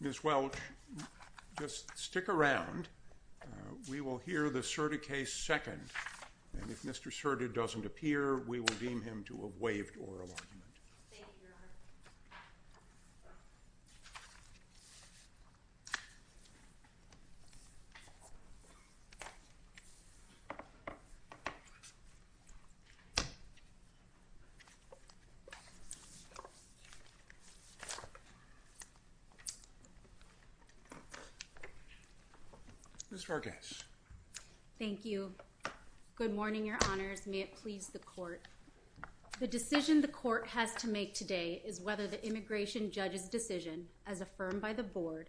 Ms. Welch, just stick around. We will hear the Surtee case second. And if Mr. Surtee doesn't appear, we will deem him to have waived oral argument. Ms. Vargas. Thank you. Good morning, your honors. May it please the court. The decision the court has to make today is whether the immigration judge's decision, as affirmed by the board,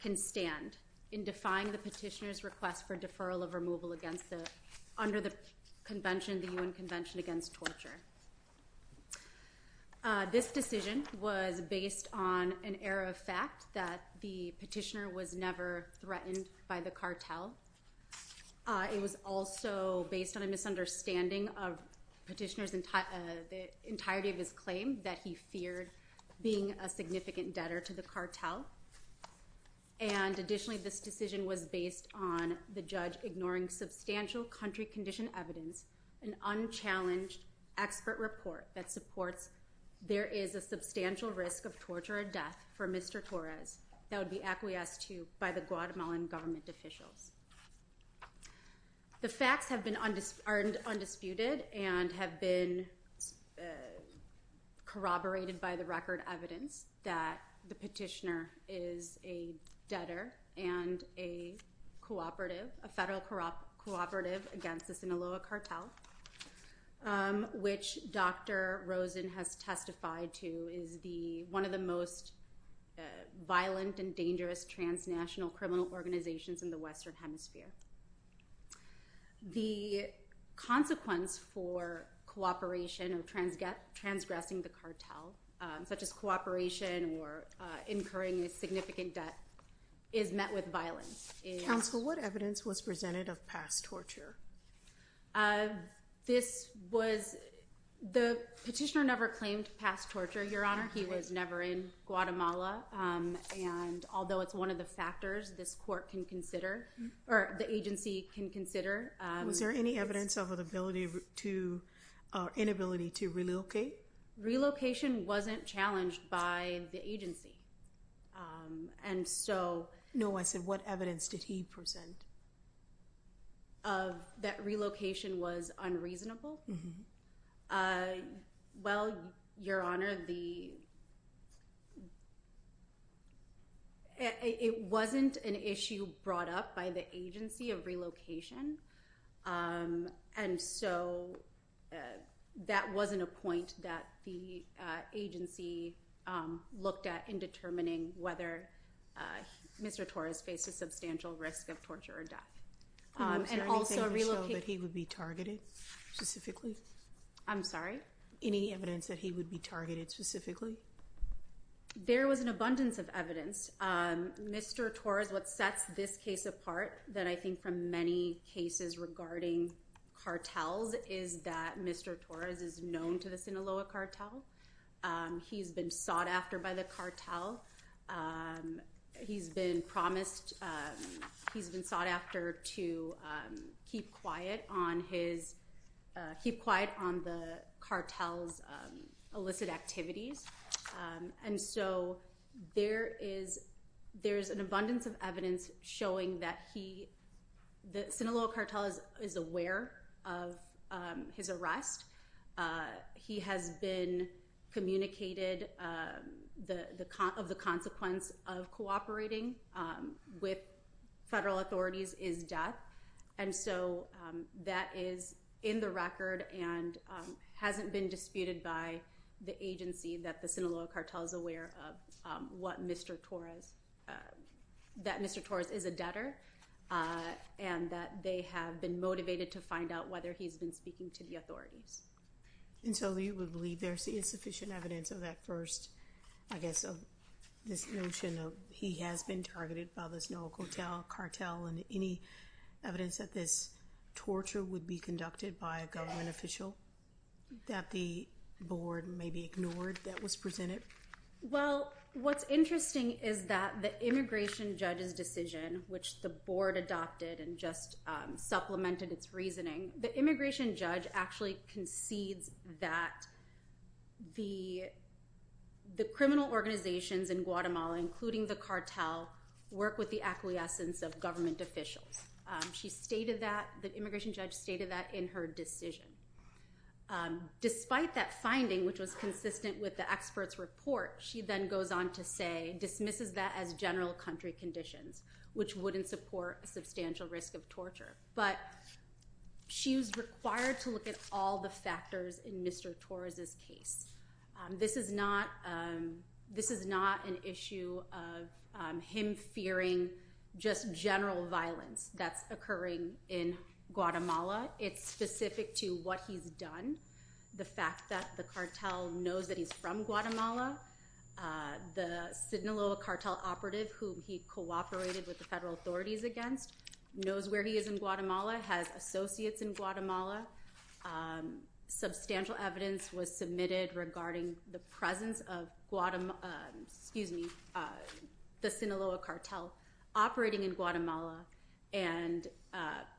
can stand in defying the petitioner's request for deferral of removal under the UN Convention Against Torture. This decision was based on an error of fact that the petitioner was never threatened by the cartel. It was also based on a misunderstanding of the petitioner's entirety of his claim that he feared being a significant debtor to the cartel. And additionally, this decision was based on the judge ignoring substantial country condition evidence, an unchallenged expert report that supports there is a substantial risk of torture or death for Mr. Torres that would be acquiesced to by the Guatemalan government officials. The facts are undisputed and have been corroborated by the record evidence that the petitioner is a debtor and a federal cooperative against the Sinaloa cartel, which Dr. Rosen has testified to is one of the most violent and dangerous transnational criminal organizations in the Western Hemisphere. The consequence for cooperation or transgressing the cartel, such as cooperation or incurring a significant debt, is met with violence. Counsel, what evidence was presented of past torture? The petitioner never claimed past torture, Your Honor. He was never in Guatemala. And although it's one of the factors this court can consider, or the agency can consider. Was there any evidence of an inability to relocate? Relocation wasn't challenged by the agency. No, I said what evidence did he present? Of that relocation was unreasonable. Well, Your Honor, the. It wasn't an issue brought up by the agency of relocation, and so that wasn't a point that the agency looked at in determining whether Mr. Torres faced a substantial risk of torture or death. And also relocate. He would be targeted specifically. I'm sorry. Any evidence that he would be targeted specifically? There was an abundance of evidence. Mr. Torres. What sets this case apart that I think from many cases regarding cartels is that Mr. Torres is known to the Sinaloa cartel. He's been sought after by the cartel. He's been promised he's been sought after to keep quiet on his keep quiet on the cartels illicit activities. And so there is there's an abundance of evidence showing that he the Sinaloa cartel is aware of his arrest. He has been communicated the of the consequence of cooperating with federal authorities is death. And so that is in the record and hasn't been disputed by the agency that the Sinaloa cartel is aware of what Mr. Torres that Mr. Torres is a debtor and that they have been motivated to find out whether he's been speaking to the authorities. And so you would believe there's the insufficient evidence of that first. I guess this notion of he has been targeted by the Sinaloa cartel cartel and any evidence that this torture would be conducted by a government official that the board maybe ignored that was presented. Well what's interesting is that the immigration judge's decision which the board adopted and just supplemented its reasoning. The immigration judge actually concedes that the the criminal organizations in Guatemala including the cartel work with the acquiescence of government officials. She stated that the immigration judge stated that in her decision. Despite that finding which was consistent with the experts report she then goes on to say dismisses that as general country conditions which wouldn't support a substantial risk of torture. But she was required to look at all the factors in Mr. Torres's case. This is not this is not an issue of him fearing just general violence that's occurring in Guatemala. It's specific to what he's done. The fact that the cartel knows that he's from Guatemala the Sinaloa cartel operative who he cooperated with the federal authorities against knows where he is in Guatemala has associates in Guatemala. Substantial evidence was submitted regarding the presence of the Sinaloa cartel operating in Guatemala and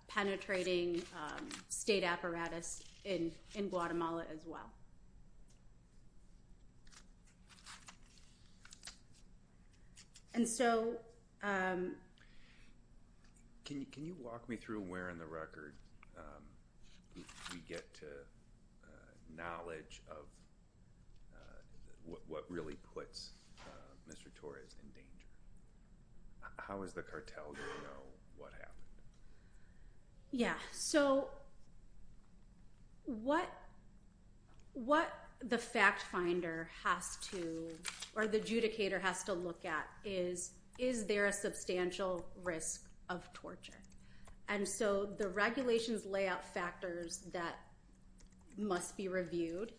penetrating state apparatus in Guatemala as well. And so can you can you walk me through where in the record we get to knowledge of what really puts Mr. Torres in danger. How is the cartel going to know what happened. Yeah. So what what the fact finder has to or the adjudicator has to look at is is there a substantial risk of torture. And so the regulations layout factors that must be reviewed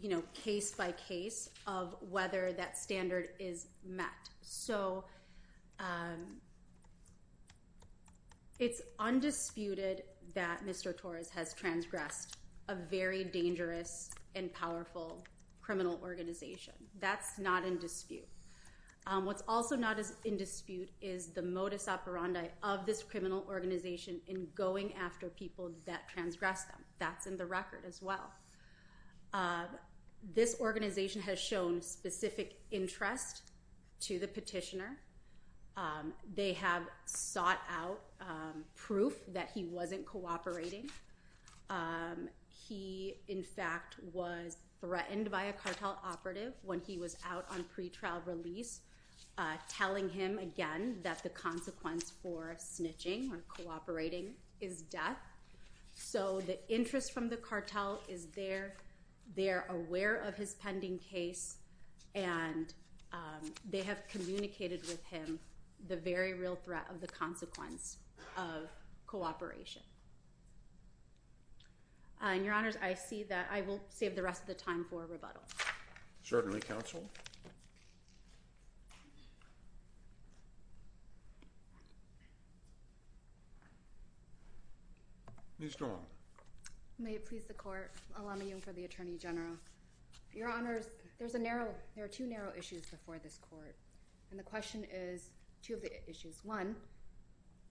you know case by case of whether that standard is met. So it's undisputed that Mr. Torres has transgressed a very dangerous and powerful criminal organization. That's not in dispute. What's also not in dispute is the modus operandi of this criminal organization in going after people that transgressed them. That's in the record as well. This organization has shown specific interest to the petitioner. They have sought out proof that he wasn't cooperating. He in fact was threatened by a cartel operative when he was out on pretrial release telling him again that the consequence for snitching or cooperating is death. So the interest from the cartel is there. They are aware of his pending case and they have communicated with him the very real threat of the consequence of cooperation. And your honors I see that I will save the rest of the time for rebuttal. Certainly counsel. Ms. Strong. May it please the court. Alana Young for the Attorney General. Your honors there's a narrow there are two narrow issues before this court. And the question is two of the issues. One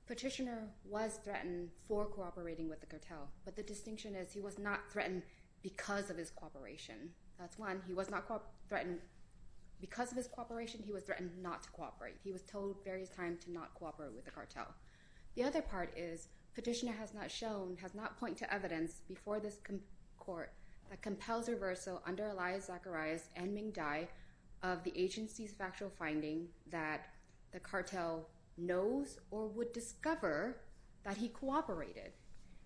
petitioner was threatened for cooperating with the cartel. But the distinction is he was not threatened because of his cooperation. That's one. He was not threatened because of his cooperation. He was threatened not to cooperate. He was told various times to not cooperate with the cartel. The other part is petitioner has not shown has not point to evidence before this court that compels reversal under Elias Zacharias and Ming Dai of the agency's factual finding that the cartel knows or would discover that he cooperated.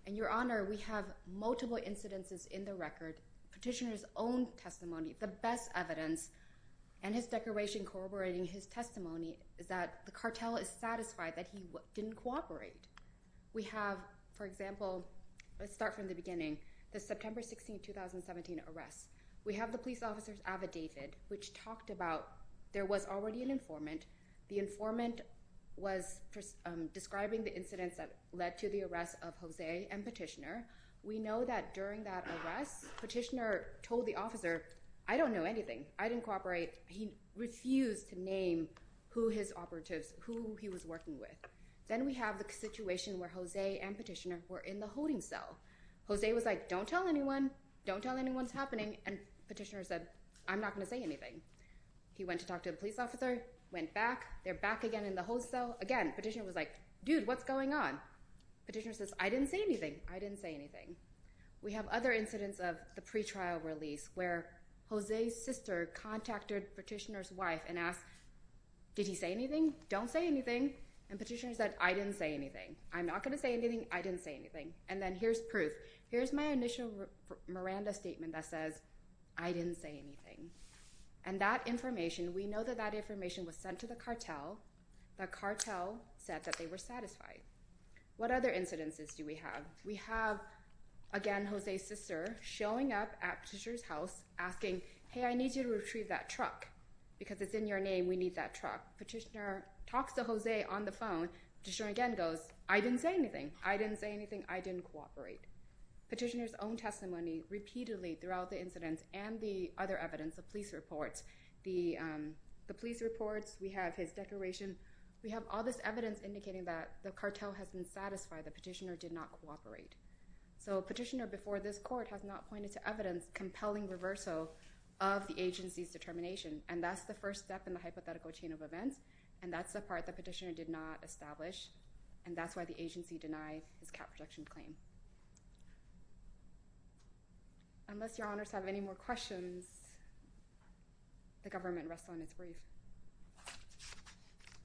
And your honor we have multiple incidences in the record petitioners own testimony. The best evidence and his declaration corroborating his testimony is that the cartel is satisfied that he didn't cooperate. We have for example let's start from the beginning the September 16 2017 arrests. We have the police officers avid David which talked about there was already an informant. The informant was describing the incidents that led to the arrest of Jose and petitioner. We know that during that arrest petitioner told the officer I don't know anything. I didn't cooperate. He refused to name who his operatives who he was working with. Then we have the situation where Jose and petitioner were in the holding cell. Jose was like don't tell anyone. Don't tell anyone what's happening. And petitioner said I'm not going to say anything. He went to talk to a police officer went back there back again in the whole cell again petitioner was like dude what's going on. Petitioner says I didn't say anything. I didn't say anything. We have other incidents of the pretrial release where Jose's sister contacted petitioner's wife and asked did he say anything. Don't say anything. And petitioner said I didn't say anything. I'm not going to say anything. I didn't say anything. And then here's proof. Here's my initial Miranda statement that says I didn't say anything. And that information we know that that information was sent to the cartel. The cartel said that they were satisfied. What other incidences do we have? We have again Jose's sister showing up at petitioner's house asking hey I need you to retrieve that truck because it's in your name we need that truck. Petitioner talks to Jose on the phone petitioner again goes I didn't say anything. I didn't say anything. I didn't cooperate. Petitioner's own testimony repeatedly throughout the incidents and the other evidence the police reports. The police reports we have his declaration. We have all this evidence indicating that the cartel has been satisfied the petitioner did not cooperate. So petitioner before this court has not pointed to evidence compelling reversal of the agency's determination. And that's the first step in the hypothetical chain of events. And that's the part the petitioner did not establish. And that's why the agency denied his cap protection claim. Unless your honors have any more questions the government rests on its grief.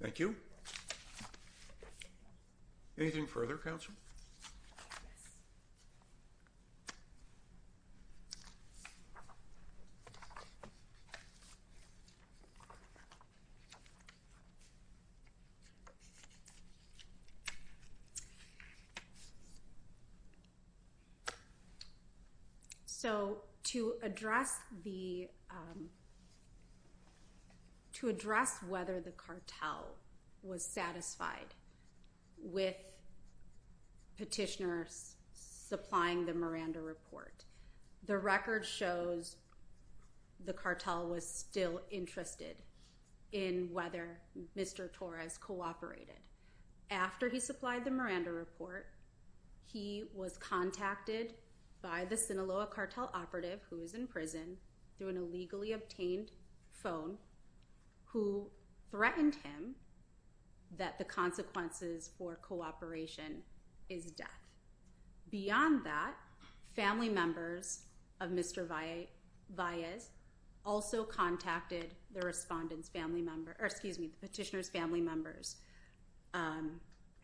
Thank you. Anything further counsel? So to address the to address whether the cartel was satisfied with petitioners supplying the Miranda report. The record shows the cartel was still interested in whether Mr. Torres cooperated. After he supplied the Miranda report he was contacted by the Sinaloa cartel operative who is in prison. Through an illegally obtained phone who threatened him that the consequences for cooperation is death. Beyond that family members of Mr. Valles also contacted the respondents family member. Or excuse me petitioner's family members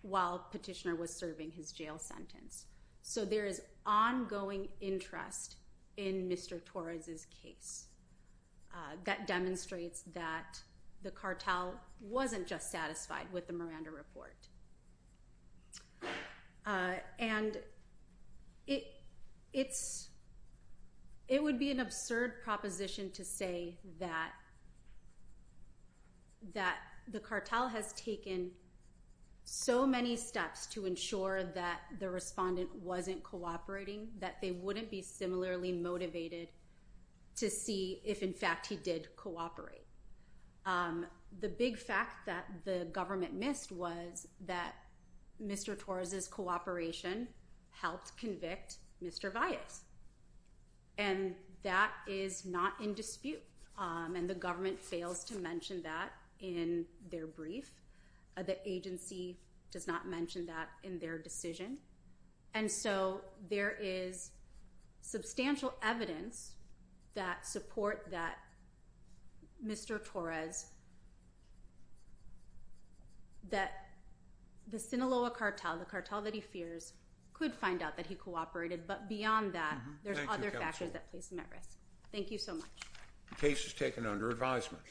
while petitioner was serving his jail sentence. So there is ongoing interest in Mr. Torres's case. That demonstrates that the cartel wasn't just satisfied with the Miranda report. And it's it would be an absurd proposition to say that that the cartel has taken so many steps to ensure that the respondent wasn't cooperating. That they wouldn't be similarly motivated to see if in fact he did cooperate. The big fact that the government missed was that Mr. Torres's cooperation helped convict Mr. Valles. And that is not in dispute and the government fails to mention that in their brief. The agency does not mention that in their decision. And so there is substantial evidence that support that Mr. Torres. That the Sinaloa cartel the cartel that he fears could find out that he cooperated. But beyond that there's other factors that place him at risk. Thank you so much. The case is taken under advisement.